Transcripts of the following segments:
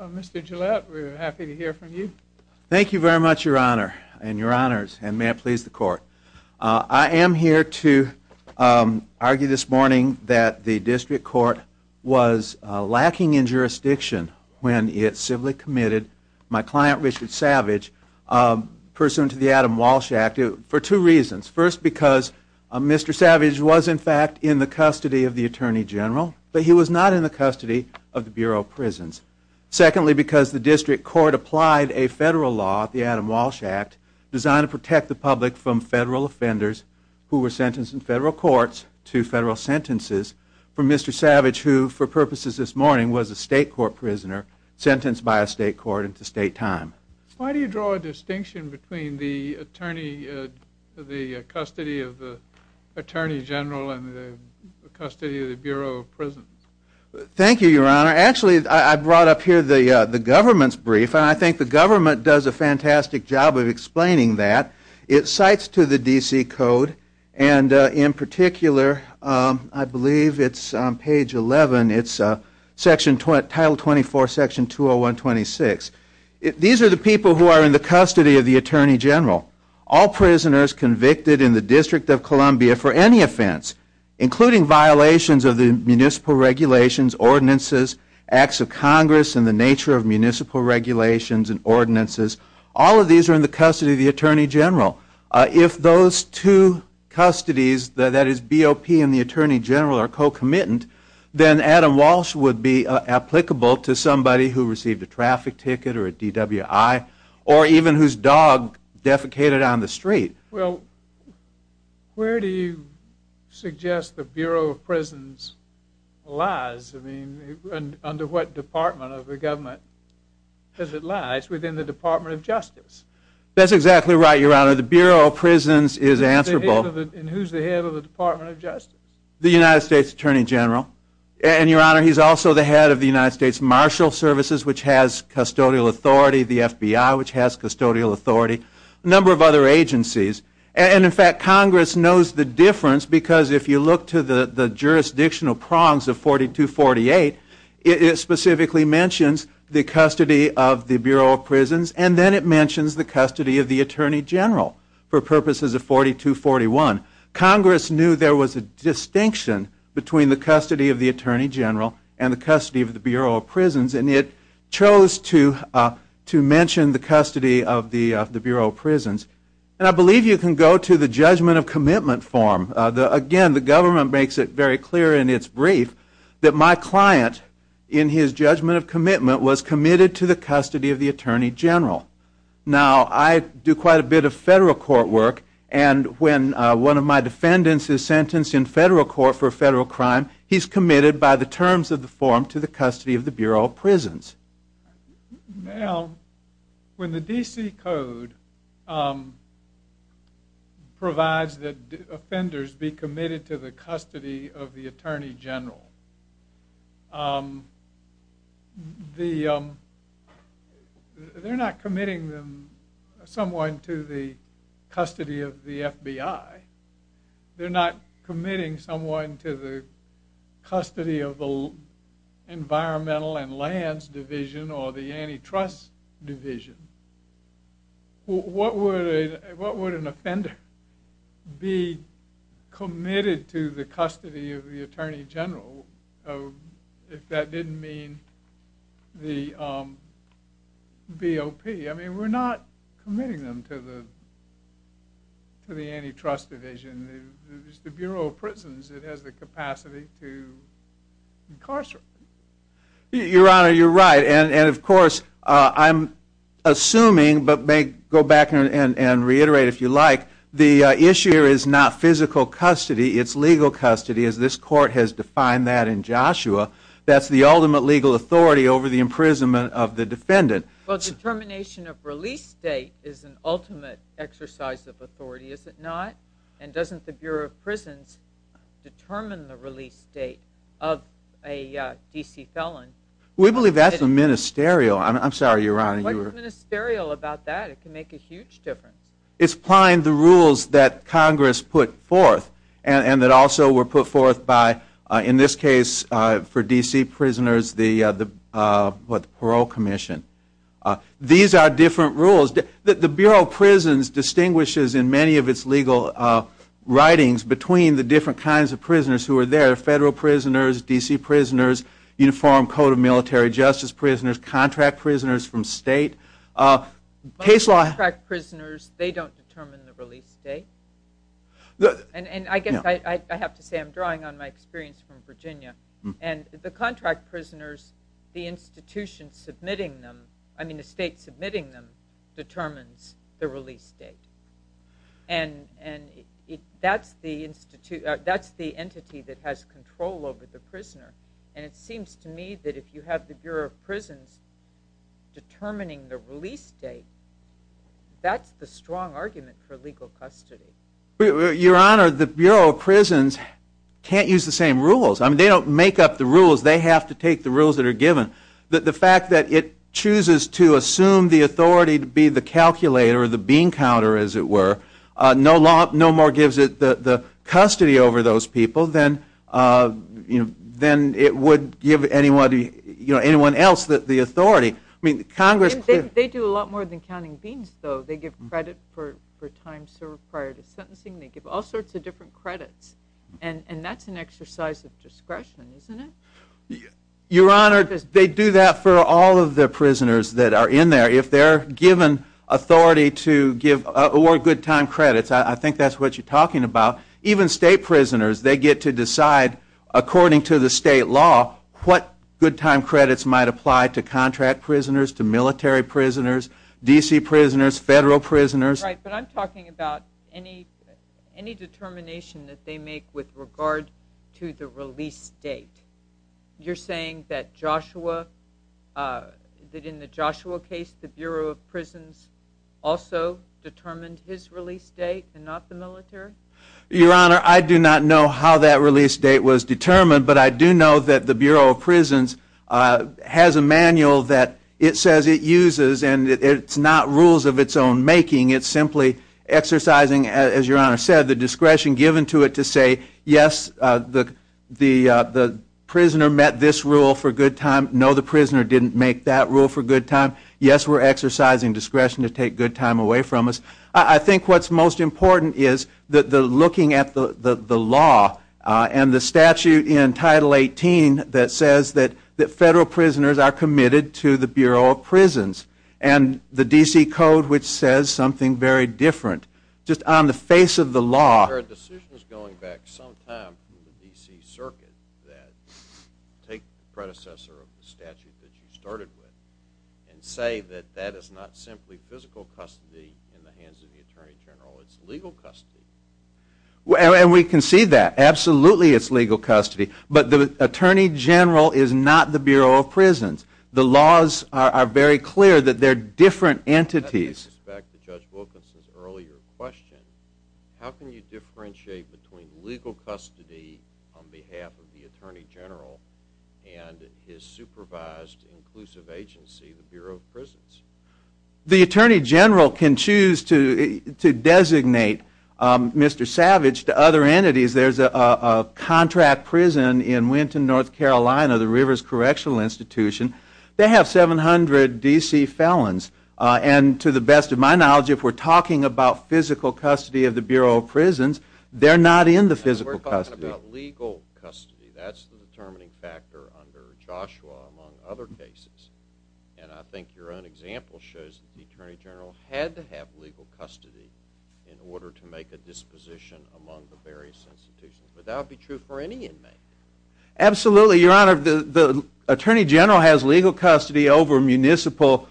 Mr. Gillette, we are happy to hear from you. Thank you very much, your honor, and your honors, and may it please the court. I am here to argue this morning that the district court was lacking in jurisdiction when it civilly committed my client Richard Savage pursuant to the Adam Walsh Act for two reasons. First, because Mr. Savage was in fact in the custody of the Attorney General, but he was not in the custody of the Bureau of Prisons. Secondly, because the district court applied a federal law, the Adam Walsh Act, designed to protect the public from federal offenders who were sentenced in federal courts to federal sentences for Mr. Savage, who for purposes this morning was a state court prisoner sentenced by a state court into state time. Why do you draw a distinction between the attorney, the custody of the Attorney General, and the custody of the Attorney General? Thank you, your honor. Actually, I brought up here the government's brief, and I think the government does a fantastic job of explaining that. It cites to the DC Code, and in particular, I believe it's on page 11, it's section, title 24, section 201-26. These are the people who are in the custody of the Attorney General. All prisoners convicted in the District of Regulations, ordinances, acts of Congress, and the nature of municipal regulations and ordinances, all of these are in the custody of the Attorney General. If those two custodies, that is BOP and the Attorney General, are co-committant, then Adam Walsh would be applicable to somebody who received a traffic ticket or a DWI, or even whose dog defecated on the street. Well, where do you suggest the under what department of the government does it lie? It's within the Department of Justice. That's exactly right, your honor. The Bureau of Prisons is answerable. And who's the head of the Department of Justice? The United States Attorney General, and your honor, he's also the head of the United States Marshal Services, which has custodial authority, the FBI, which has custodial authority, a number of other agencies, and in fact, Congress knows the difference, because if you look to the jurisdictional prongs of 4248, it specifically mentions the custody of the Bureau of Prisons, and then it mentions the custody of the Attorney General, for purposes of 4241. Congress knew there was a distinction between the custody of the Attorney General and the custody of the Bureau of Prisons, and it chose to mention the custody of the Bureau of Prisons. And I government makes it very clear in its brief that my client, in his judgment of commitment, was committed to the custody of the Attorney General. Now, I do quite a bit of federal court work, and when one of my defendants is sentenced in federal court for a federal crime, he's committed by the terms of the form to the custody of the Bureau of Prisons. Now, when the DC Code provides that offenders be the custody of the Attorney General, they're not committing them, someone, to the custody of the FBI. They're not committing someone to the custody of the Environmental and Lands Division or the Antitrust Division. What would an the custody of the Attorney General, if that didn't mean the BOP? I mean, we're not committing them to the Antitrust Division. It's the Bureau of Prisons that has the capacity to incarcerate them. Your Honor, you're right, and of course, I'm assuming, but may go back and reiterate if you like, the issue here is not physical custody, it's legal custody, as this court has defined that in Joshua. That's the ultimate legal authority over the imprisonment of the defendant. Well, determination of release date is an ultimate exercise of authority, is it not? And doesn't the Bureau of Prisons determine the release date of a DC felon? We believe that's a ministerial. I'm sorry, Your Honor. What's ministerial about that? It can make a huge difference. It's applying the rules that Congress put forth and that also were put forth by, in this case, for DC prisoners, the Parole Commission. These are different rules. The Bureau of Prisons distinguishes in many of its legal writings between the different kinds of prisoners who are there, federal prisoners, DC prisoners, Uniform Code of Military Justice prisoners, contract prisoners from state. Case law... Contract prisoners, they don't determine the release date. And I guess I have to say, I'm drawing on my experience from Virginia, and the contract prisoners, the institution submitting them, I mean the state submitting them, determines the release date. And that's the entity that has control over the prisoner. And it seems to me that if you have the Bureau of Prisons determining the release date, that's the strong argument for legal custody. Your Honor, the Bureau of Prisons can't use the same rules. I mean, they don't make up the rules. They have to take the rules that are given. The fact that it chooses to assume the authority to be the calculator or the bean counter, as it were, no more gives it the custody over those people than, you know, they do a lot more than counting beans, though. They give credit for time served prior to sentencing. They give all sorts of different credits. And that's an exercise of discretion, isn't it? Your Honor, they do that for all of the prisoners that are in there. If they're given authority to award good time credits, I think that's what you're talking about. Even state prisoners, they get to decide, according to the state law, what good time credits might apply to military prisoners, D.C. prisoners, federal prisoners. Right, but I'm talking about any determination that they make with regard to the release date. You're saying that Joshua, that in the Joshua case, the Bureau of Prisons also determined his release date and not the military? Your Honor, I do not know how that release date was determined, but I do know that the Bureau of Prisons has a manual that it says it uses, and it's not rules of its own making. It's simply exercising, as Your Honor said, the discretion given to it to say, yes, the prisoner met this rule for good time. No, the prisoner didn't make that rule for good time. Yes, we're exercising discretion to take good time away from us. I think what's most important is that the looking at the law and the statute in Title 18 that says that federal prisoners are committed to the Bureau of Prisons, and the D.C. Code, which says something very different, just on the face of the law. There are decisions going back some time from the D.C. Circuit that take the predecessor of the statute that you started with and say that that is not simply physical custody in the hands of the Attorney General, it's legal custody. And we can see that. Absolutely it's legal custody, but the Attorney General is not the Bureau of Prisons. The laws are very clear that they're different entities. Back to Judge Wilkinson's earlier question, how can you differentiate between legal custody on behalf of the Attorney General and his supervised inclusive agency, the Bureau of Prisons? The Attorney General can choose to designate Mr. Savage to other entities. There's a contract prison in Winton, North Carolina, the Rivers Correctional Institution. They have 700 D.C. felons. And to the best of my knowledge, if we're talking about physical custody of the Bureau of Prisons, they're not in the physical custody. We're talking about legal custody. That's the determining factor under Joshua, among other cases. And I think your own example shows that the Attorney General had to have legal custody in order to make a disposition among the various institutions. But that would be true for any inmate. Absolutely, Your Honor. The Attorney General has legal custody over municipal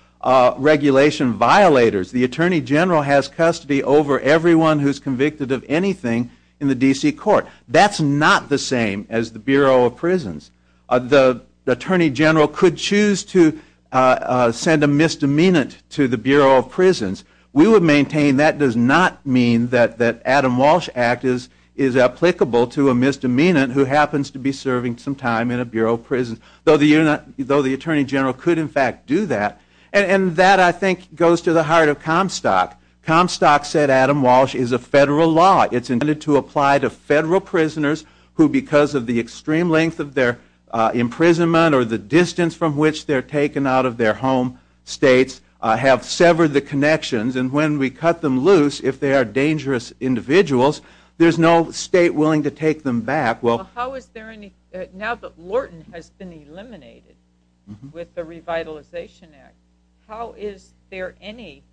regulation violators. The Attorney General has custody over everyone who's convicted of anything in the D.C. court. That's not the same as the Bureau of Prisons. The Attorney General could choose to send a misdemeanant to the Bureau of Prisons. We would maintain that does not mean that the Adam Walsh Act is applicable to a misdemeanant who happens to be serving some time in a Bureau of Prisons. Though the Attorney General could in fact do that. And that, I think, goes to the heart of Comstock. Comstock said Adam Walsh is a federal law. It's intended to apply to federal prisoners who, because of the extreme length of their imprisonment or the distance from which they're taken out of their home states, have severed the connections. And when we cut them loose, if they are dangerous individuals, there's no state willing to take them back. Now that Lorton has been eliminated with the Revitalization Act, how is there any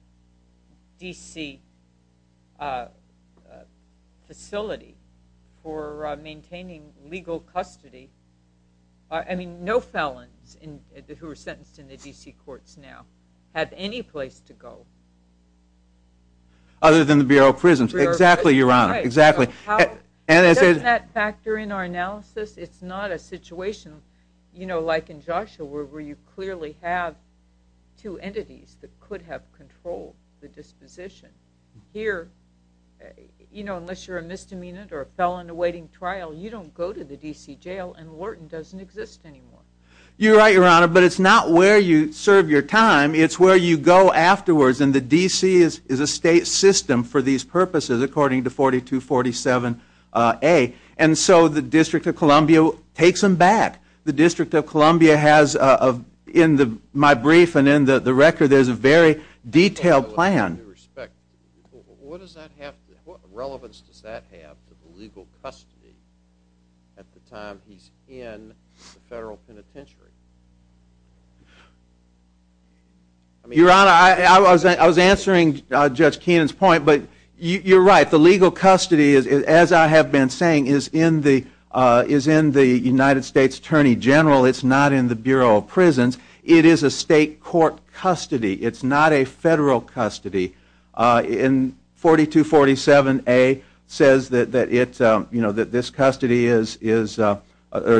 D.C. facility for maintaining legal custody? I mean, no felons who are sentenced in the D.C. courts now have any place to go. Other than the Bureau of Prisons. Exactly, Your Honor. Doesn't that factor in our analysis? It's not a situation like in Joshua where you clearly have two entities that could have controlled the disposition. Here, unless you're a misdemeanant or a felon awaiting trial, you don't go to the D.C. jail and Lorton doesn't exist anymore. You're right, Your Honor, but it's not where you serve your time. It's where you go afterwards and the D.C. is a state system for these purposes according to 4247A. And so the District of Columbia takes them back. The District of Columbia has, in my brief and in the record, there's a very detailed plan. What relevance does that have to the legal custody at the time he's in the federal penitentiary? Your Honor, I was answering Judge Keenan's point, but you're right. The legal custody, as I have been saying, is in the United States Attorney General. It's not in the Bureau of Prisons. It is a state court custody. It's not a federal custody. In 4247A says that this custody is, or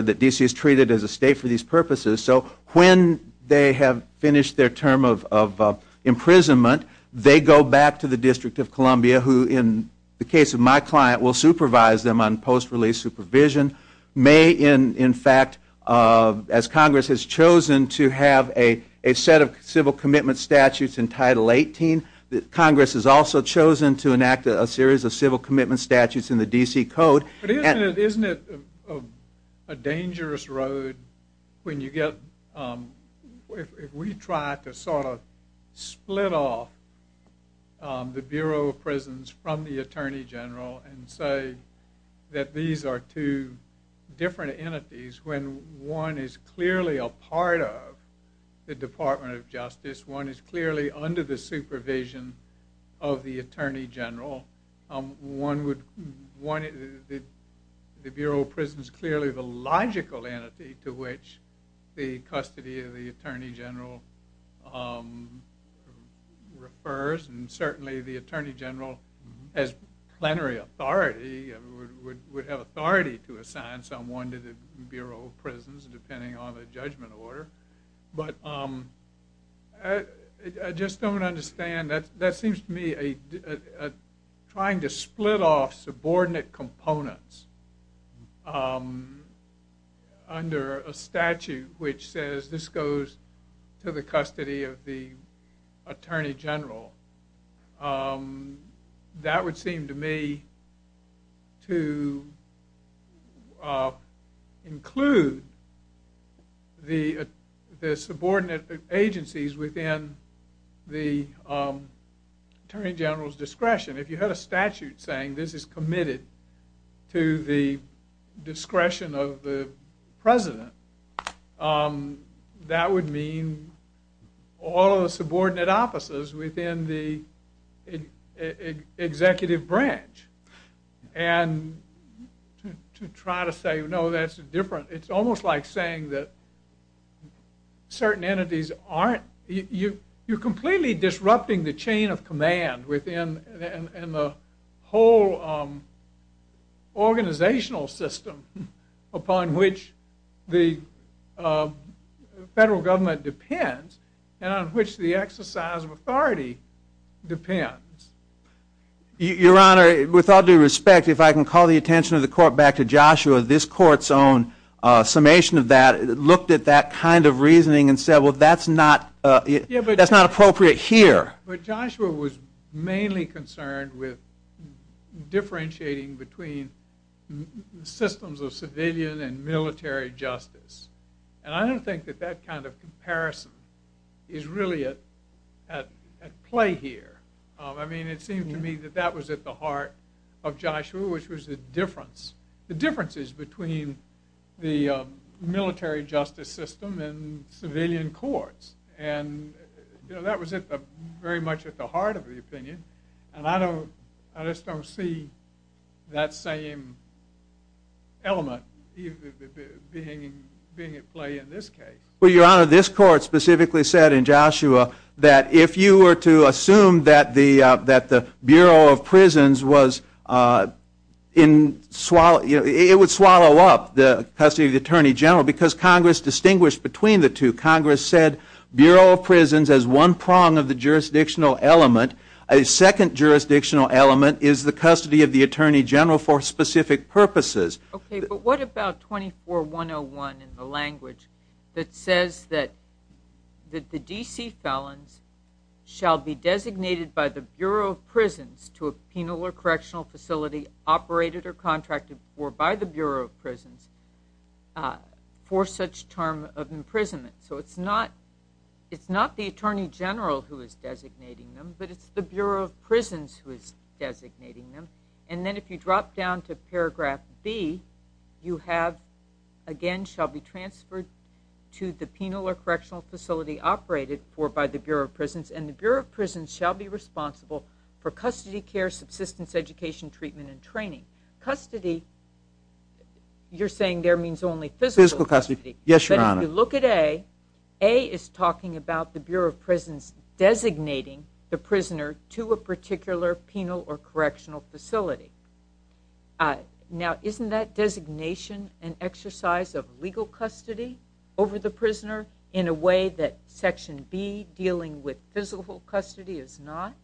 that D.C. is treated as a state for these purposes. So when they have finished their term of imprisonment, they go back to the District of Columbia who, in the case of my client, will supervise them on post-release supervision. May, in fact, as Congress has chosen to have a set of civil commitment statutes in Title 18, Congress has also chosen to enact a series of civil commitment statutes in the D.C. Code. But isn't it a dangerous road when you get, if we try to sort of split off the Bureau of Prisons from the Attorney General and say that these are two different entities, when one is clearly a part of the Department of Justice, one is clearly under the supervision of the Attorney General, one would, the Bureau of Prisons is clearly the logical entity to which the custody of the Attorney General refers, and certainly the Attorney General has plenary authority, would have authority to assign someone to the Bureau of Prisons depending on the judgment order. But I just don't understand. That seems to me trying to split off subordinate components under a statute which says this goes to the custody of the Attorney General. That would seem to me to include the subordinate agencies within the Attorney General's discretion. If you had a statute saying this is committed to the discretion of the President, that would mean all of the subordinate offices within the executive branch. And to try to say no, that's different. It's almost like saying that certain entities aren't, you're completely disrupting the chain of command within the whole organizational system upon which the federal government depends and on which the exercise of authority depends. Your Honor, with all due respect, if I can call the attention of the Court back to Joshua, this Court's own summation of that looked at that kind of reasoning and said, well, that's not appropriate here. But Joshua was mainly concerned with differentiating between systems of civilian and military justice. And I don't think that that kind of comparison is really at play here. I mean, it seemed to me that that was at the heart of Joshua, which was the difference. between the military justice system and civilian courts. And that was very much at the heart of the opinion. And I just don't see that same element being at play in this case. Well, Your Honor, this Court specifically said in Joshua that if you were to assume that the Bureau of Prisons was in, it would swallow up the custody of the Attorney General because Congress distinguished between the two. Congress said Bureau of Prisons has one prong of the jurisdictional element. A second jurisdictional element is the custody of the Attorney General for specific purposes. Okay, but what about 24-101 in the language that says that the D.C. felons shall be designated by the Bureau of Prisons to a penal or correctional facility operated or contracted for by the Bureau of Prisons for such term of imprisonment. So it's not the Attorney General who is designating them, but it's the Bureau of Prisons who is designating them. And then if you drop down to paragraph B, you have, again, shall be transferred to the penal or correctional facility operated for by the Bureau of Prisons, and the Bureau of Prisons shall be responsible for custody care, subsistence education, treatment, and training. Custody, you're saying there means only physical custody. Physical custody, yes, Your Honor. But if you look at A, A is talking about the Bureau of Prisons designating the prisoner to a particular penal or correctional facility. Now, isn't that designation an exercise of legal custody over the prisoner in a way that section B, dealing with physical custody, is not?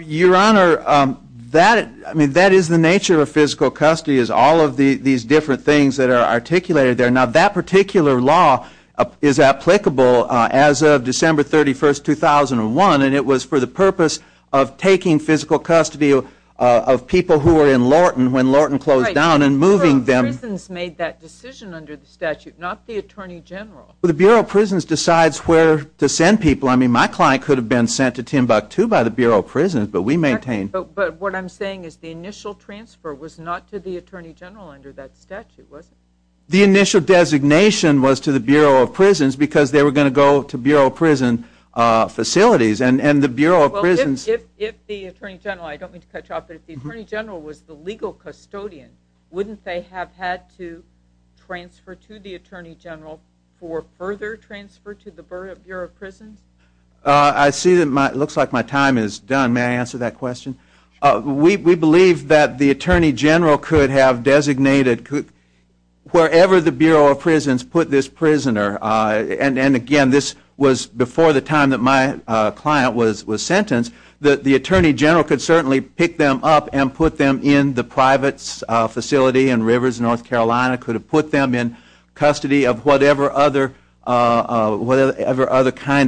Your Honor, that is the nature of physical custody, is all of these different things that are articulated there. Now, that particular law is applicable as of December 31, 2001, and it was for the purpose of taking physical custody of people who were in Lorton when Lorton closed down and moving them. The Bureau of Prisons made that decision under the statute, not the Attorney General. Well, the Bureau of Prisons decides where to send people. I mean, my client could have been sent to Timbuktu by the Bureau of Prisons, but we maintained. But what I'm saying is the initial transfer was not to the Attorney General under that statute, was it? The initial designation was to the Bureau of Prisons because they were going to go to Bureau of Prison facilities, and the Bureau of Prisons Well, if the Attorney General, I don't mean to cut you off, but if the Attorney General was the legal custodian, wouldn't they have had to transfer to the Attorney General for further transfer to the Bureau of Prisons? I see that it looks like my time is done. May I answer that question? We believe that the Attorney General could have designated wherever the Bureau of Prisons put this prisoner, and again, this was before the time that my client was sentenced, that the Attorney General could certainly pick them up and put them in the private facility in Rivers, North Carolina, could have put them in custody of whatever other kind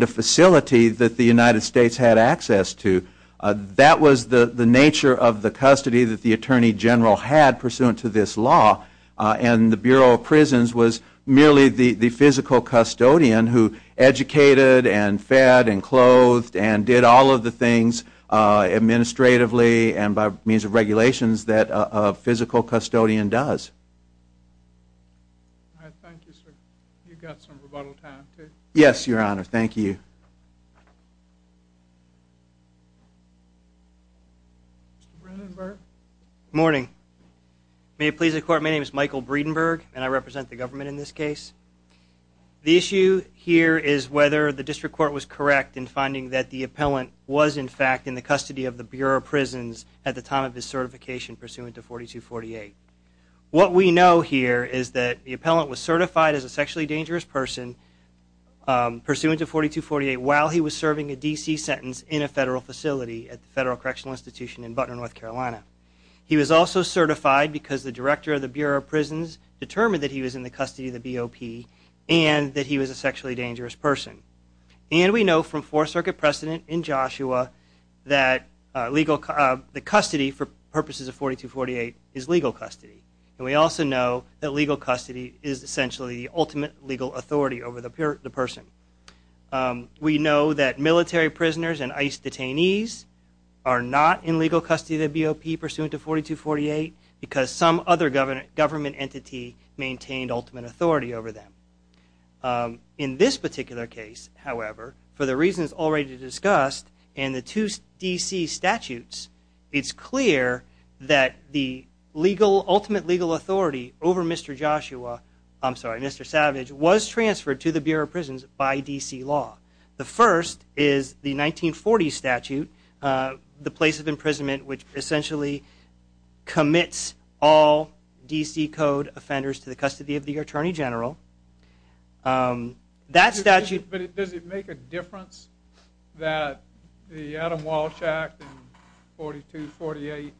of facility that the United States had access to. That was the nature of the custody that the Attorney General had pursuant to this law, and the Bureau of Prisons was merely the physical custodian who educated and fed and clothed and did all of the things administratively and by means of regulations that a physical custodian does. Thank you, sir. You've got some rebuttal time, too. Yes, Your Honor. Thank you. Mr. Breedenburg? Good morning. May it please the Court, my name is Michael Breedenburg, and I represent the government in this case. The issue here is whether the District Court was correct in finding that the appellant was, in fact, in the custody of the Bureau of Prisons at the time of his certification pursuant to 4248. What we know here is that the appellant was certified as a sexually dangerous person pursuant to 4248 while he was serving a D.C. sentence in a federal facility at the Federal Correctional Institution in Butner, North Carolina. He was also certified because the Director of the Bureau of Prisons determined that he was in the custody of the BOP and that he was a sexually dangerous person. And we know from Fourth Circuit precedent in Joshua that the custody for purposes of 4248 is legal custody. And we also know that legal custody is essentially the ultimate legal authority over the person. We know that military prisoners and ICE detainees are not in legal custody of the BOP pursuant to 4248 because some other government entity maintained ultimate authority over them. In this particular case, however, for the reasons already discussed and the two D.C. statutes, it's clear that the ultimate legal authority over Mr. Savage was transferred to the Bureau of Prisons by D.C. law. The first is the 1940 statute, the place of imprisonment, which essentially commits all D.C. Code offenders to the custody of the Attorney General. Does it make a difference that the Adam Walsh Act in 4248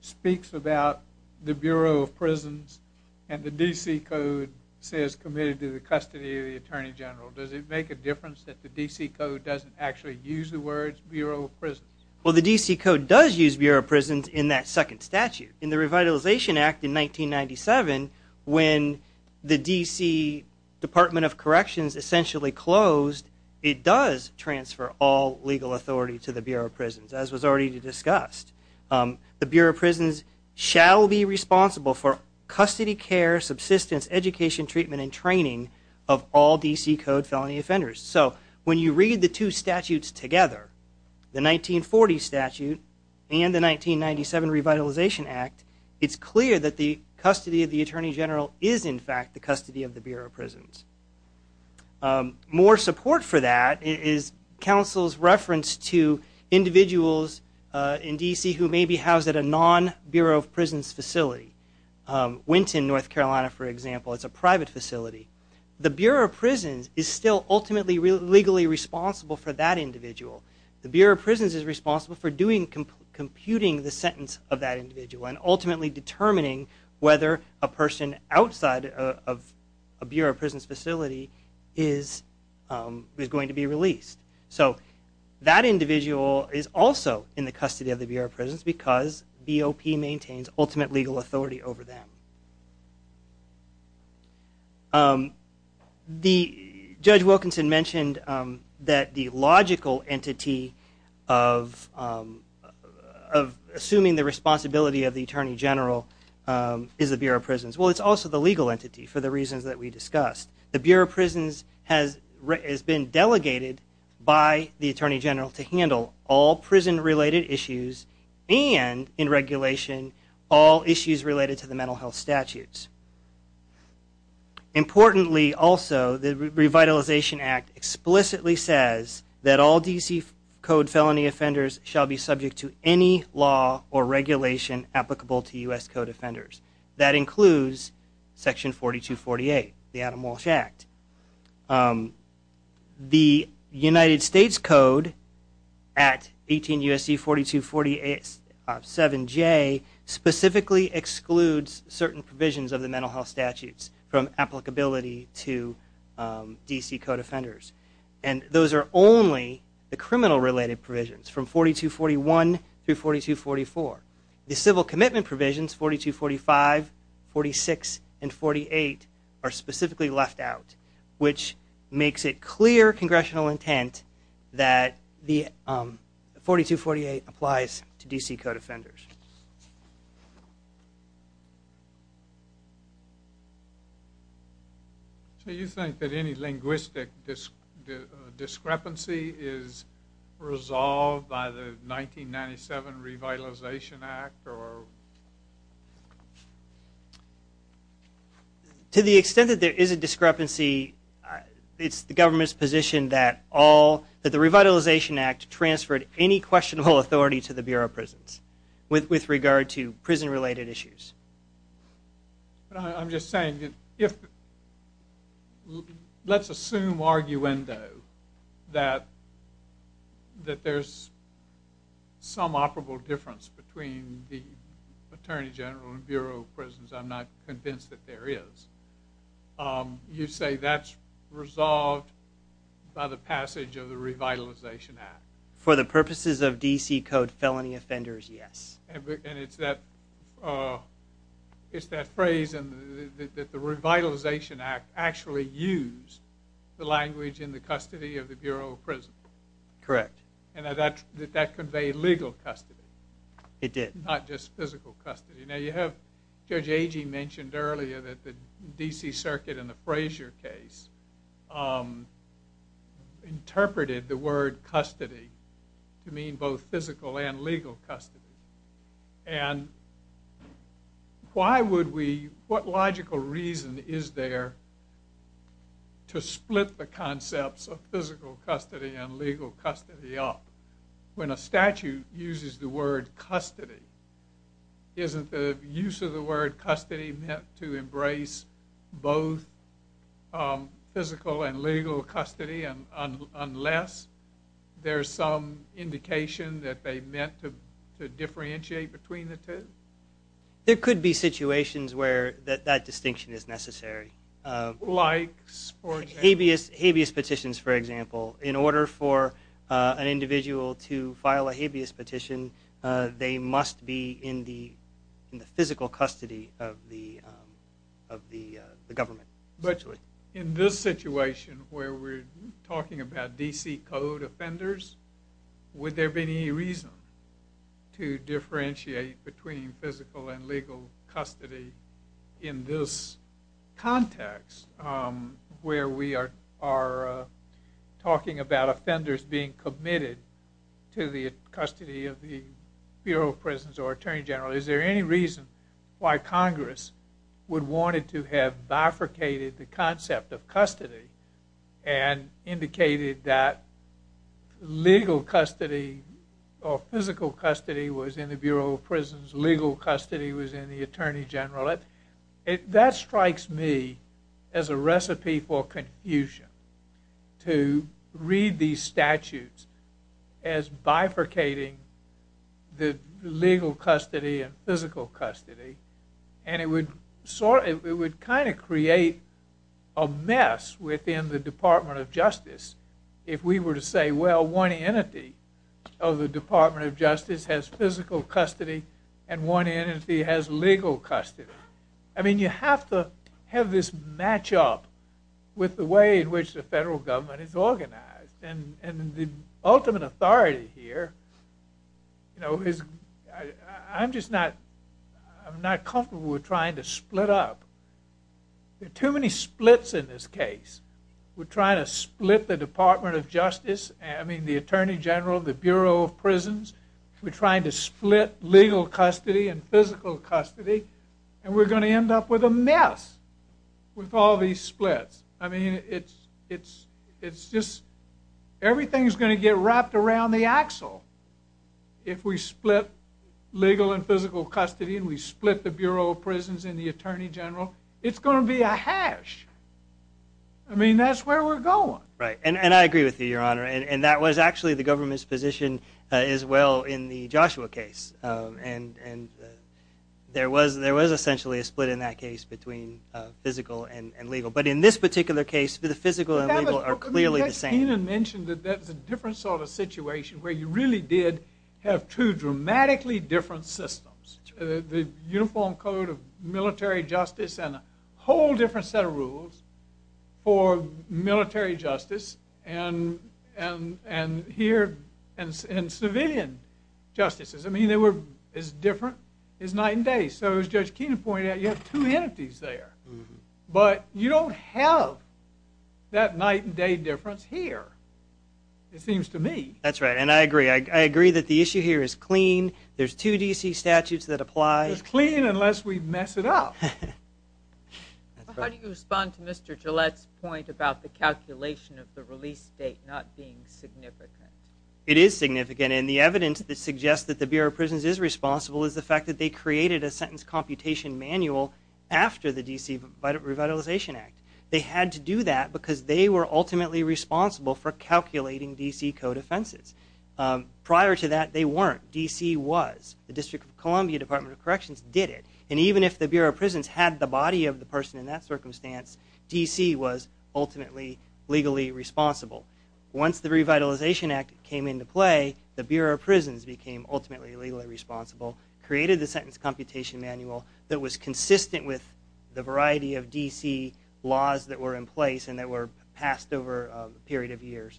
speaks about the Bureau of Prisons and the D.C. Code says committed to the custody of the Attorney General? Does it make a difference that the D.C. Code doesn't actually use the words Bureau of Prisons? Well, the D.C. Code does use Bureau of Prisons in that second statute. In the Revitalization Act in 1997, when the D.C. Department of Corrections essentially closed, it does transfer all legal authority to the Bureau of Prisons, as was already discussed. The Bureau of Prisons shall be responsible for custody, care, subsistence, education, treatment, and training of all D.C. Code felony offenders. So when you read the two statutes together, the 1940 statute and the 1997 Revitalization Act, it's clear that the custody of the Attorney General is, in fact, the custody of the Bureau of Prisons. More support for that is counsel's reference to individuals in D.C. who may be housed at a non-Bureau of Prisons facility. Winton, North Carolina, for example, is a private facility. The Bureau of Prisons is still ultimately legally responsible for that individual. The Bureau of Prisons is responsible for computing the sentence of that individual and ultimately determining whether a person outside of a Bureau of Prisons facility is going to be released. So that individual is also in the custody of the Bureau of Prisons because BOP maintains ultimate legal authority over them. Judge Wilkinson mentioned that the logical entity of assuming the responsibility of the Attorney General is the Bureau of Prisons. Well, it's also the legal entity for the reasons that we discussed. The Bureau of Prisons has been delegated by the Attorney General to handle all prison-related issues and, in regulation, all issues related to the mental health statutes. Importantly, also, the Revitalization Act explicitly says that all D.C. Code felony offenders shall be subject to any law or regulation applicable to U.S. Code offenders. That includes Section 4248, the Adam Walsh Act. The United States Code at 18 U.S.C. 4247J specifically excludes certain provisions of the mental health statutes from applicability to D.C. Code offenders. And those are only the criminal-related provisions from 4241 through 4244. The civil commitment provisions 4245, 4246, and 4248 are specifically left out, which makes it clear congressional intent that the 4248 applies to D.C. Code offenders. Other questions? Do you think that any linguistic discrepancy is resolved by the 1997 Revitalization Act? To the extent that there is a discrepancy, it's the government's position that all, that the Revitalization Act transferred any questionable authority to the Bureau of Prisons with regard to prison-related issues. I'm just saying, let's assume arguendo that there's some operable difference between the Attorney General and Bureau of Prisons. I'm not convinced that there is. You say that's resolved by the passage of the Revitalization Act. For the purposes of D.C. Code felony offenders, yes. And it's that phrase that the Revitalization Act actually used the language in the custody of the Bureau of Prisons. Correct. And that conveyed legal custody. It did. Not just physical custody. Now you have, Judge Agee mentioned earlier that the D.C. Circuit in the Frazier case interpreted the word custody to mean both physical and legal custody. And why would we, what logical reason is there to split the concepts of physical custody and legal custody up when a statute uses the word custody? Isn't the use of the word custody meant to embrace both physical and legal custody unless there's some indication that they meant to differentiate between the two? There could be situations where that distinction is necessary. Like, for example? In order for an individual to file a habeas petition, they must be in the physical custody of the government. But in this situation where we're talking about D.C. Code offenders, would there be any reason to differentiate between physical and legal custody in this context where we are talking about offenders being committed to the custody of the Bureau of Prisons or Attorney General? Is there any reason why Congress would want it to have bifurcated the concept of custody and indicated that legal custody or physical custody was in the Bureau of Prisons, legal custody was in the Attorney General? That strikes me as a recipe for confusion, to read these statutes as bifurcating the legal custody and physical custody. And it would kind of create a mess within the Department of Justice if we were to say, well, one entity of the Department of Justice has physical custody and one entity has legal custody. I mean, you have to have this match-up with the way in which the federal government is organized. And the ultimate authority here, you know, I'm just not comfortable with trying to split up. There are too many splits in this case. We're trying to split the Department of Justice, I mean, the Attorney General, the Bureau of Prisons. We're trying to split legal custody and physical custody, and we're going to end up with a mess with all these splits. I mean, it's just, everything's going to get wrapped around the axle if we split legal and physical custody and we split the Bureau of Prisons and the Attorney General. It's going to be a hash. I mean, that's where we're going. Right, and I agree with you, Your Honor. And that was actually the government's position as well in the Joshua case. And there was essentially a split in that case between physical and legal. But in this particular case, the physical and legal are clearly the same. But that's what Kenan mentioned, that that's a different sort of situation where you really did have two dramatically different systems, the Uniform Code of Military Justice and a whole different set of rules for military justice and here in civilian justices. I mean, they were as different as night and day. So as Judge Kenan pointed out, you have two entities there. But you don't have that night and day difference here, it seems to me. That's right, and I agree. I agree that the issue here is clean. There's two D.C. statutes that apply. It's clean unless we mess it up. How do you respond to Mr. Gillette's point about the calculation of the release date not being significant? It is significant, and the evidence that suggests that the Bureau of Prisons is responsible is the fact that they created a sentence computation manual after the D.C. Revitalization Act. They had to do that because they were ultimately responsible for calculating D.C. code offenses. Prior to that, they weren't. D.C. was. The District of Columbia Department of Corrections did it. And even if the Bureau of Prisons had the body of the person in that circumstance, D.C. was ultimately legally responsible. Once the Revitalization Act came into play, the Bureau of Prisons became ultimately legally responsible, created the sentence computation manual that was consistent with the variety of D.C. laws that were in place and that were passed over a period of years.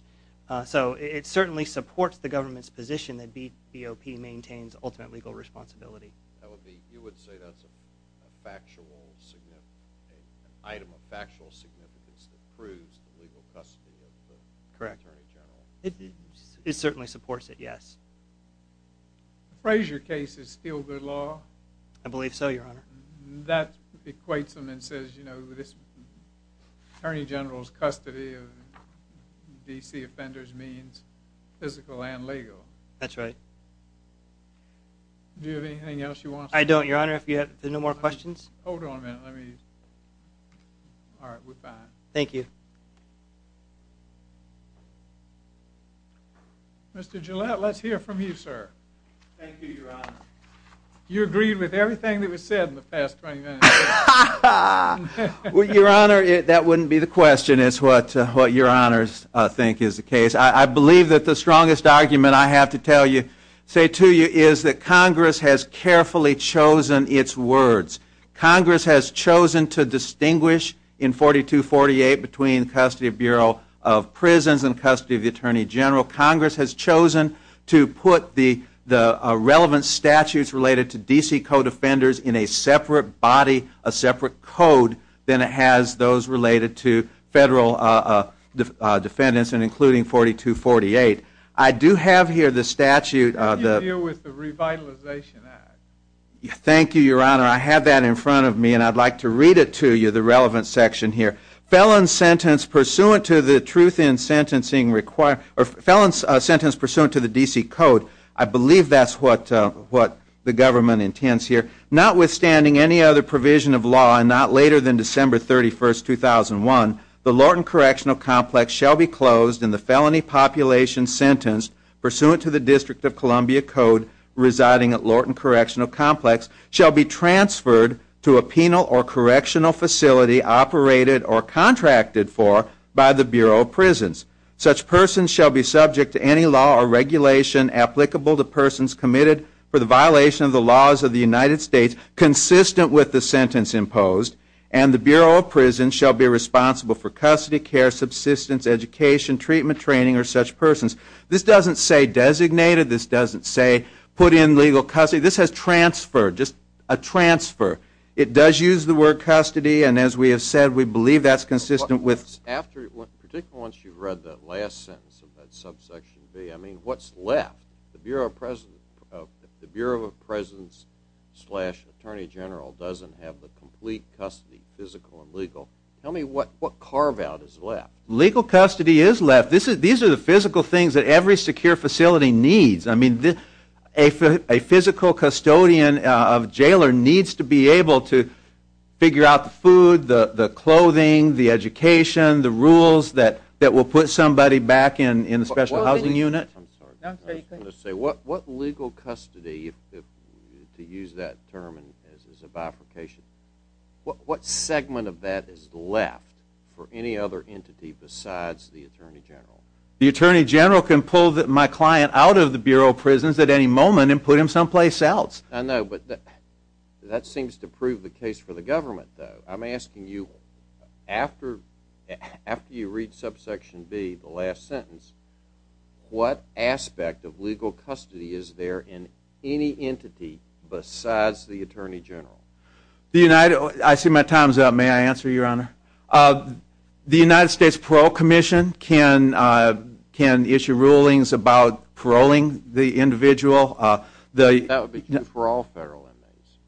So it certainly supports the government's position that BOP maintains ultimate legal responsibility. You would say that's an item of factual significance that proves the legal custody of the Attorney General? Correct. It certainly supports it, yes. The Frazier case is still good law? I believe so, Your Honor. That equates them and says, you know, this Attorney General's custody of D.C. offenders means physical and legal. That's right. Do you have anything else you want to say? I don't, Your Honor. If you have no more questions. Hold on a minute. Let me. All right, we're fine. Thank you. Mr. Gillette, let's hear from you, sir. Thank you, Your Honor. You agreed with everything that was said in the past 20 minutes. Well, Your Honor, that wouldn't be the question. It's what Your Honors think is the case. I believe that the strongest argument I have to tell you, say to you, is that Congress has carefully chosen its words. Congress has chosen to distinguish in 4248 between custody of Bureau of Prisons and custody of the Attorney General. Congress has chosen to put the relevant statutes related to D.C. co-defenders in a separate body, a separate code, than it has those related to federal defendants, and including 4248. I do have here the statute. What do you do with the revitalization act? Thank you, Your Honor. I have that in front of me, and I'd like to read it to you, the relevant section here. Felons sentenced pursuant to the D.C. code. I believe that's what the government intends here. Notwithstanding any other provision of law, and not later than December 31, 2001, the Lorton Correctional Complex shall be closed and the felony population sentenced pursuant to the District of Columbia code residing at Lorton Correctional Complex shall be transferred to a penal or correctional facility operated or contracted for by the Bureau of Prisons. Such persons shall be subject to any law or regulation applicable to persons committed for the violation of the laws of the United States consistent with the sentence imposed, and the Bureau of Prisons shall be responsible for custody, care, subsistence, education, treatment, training, or such persons. This doesn't say designated. This doesn't say put in legal custody. This has transferred, just a transfer. It does use the word custody, and as we have said, we believe that's consistent with Particularly once you've read that last sentence of that subsection B, I mean, what's left? The Bureau of Presidents slash Attorney General doesn't have the complete custody, physical and legal. Tell me what carve out is left? Legal custody is left. These are the physical things that every secure facility needs. I mean, a physical custodian of a jailer needs to be able to figure out the food, the clothing, the education, the rules that will put somebody back in a special housing unit. What legal custody, to use that term as a bifurcation, what segment of that is left for any other entity besides the Attorney General? The Attorney General can pull my client out of the Bureau of Prisons at any moment and put him someplace else. I know, but that seems to prove the case for the government, though. I'm asking you, after you read subsection B, the last sentence, what aspect of legal custody is there in any entity besides the Attorney General? I see my time's up. May I answer, Your Honor? The United States Parole Commission can issue rulings about paroling the individual. That would be true for all federal inmates.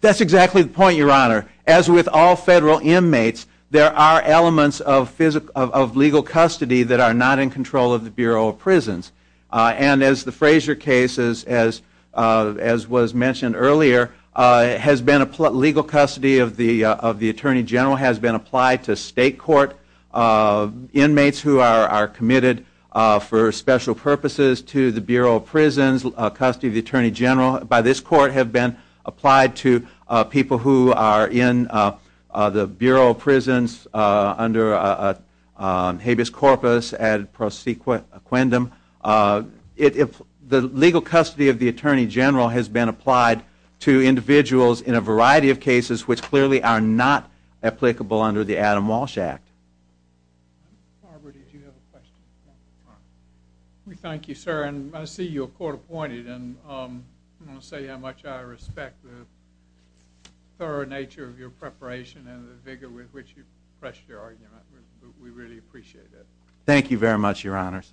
That's exactly the point, Your Honor. As with all federal inmates, there are elements of legal custody that are not in control of the Bureau of Prisons. And as the Frazier case, as was mentioned earlier, legal custody of the Attorney General has been applied to state court inmates who are committed for special purposes to the Bureau of Prisons. Legal custody of the Attorney General, by this court, have been applied to people who are in the Bureau of Prisons under habeas corpus ad prosequentem. The legal custody of the Attorney General has been applied to individuals in a variety of cases which clearly are not applicable under the Adam Walsh Act. Barbara, did you have a question? Thank you, sir. And I see you're court-appointed. And I want to say how much I respect the thorough nature of your preparation and the vigor with which you pressed your argument. We really appreciate it. Thank you very much, Your Honors.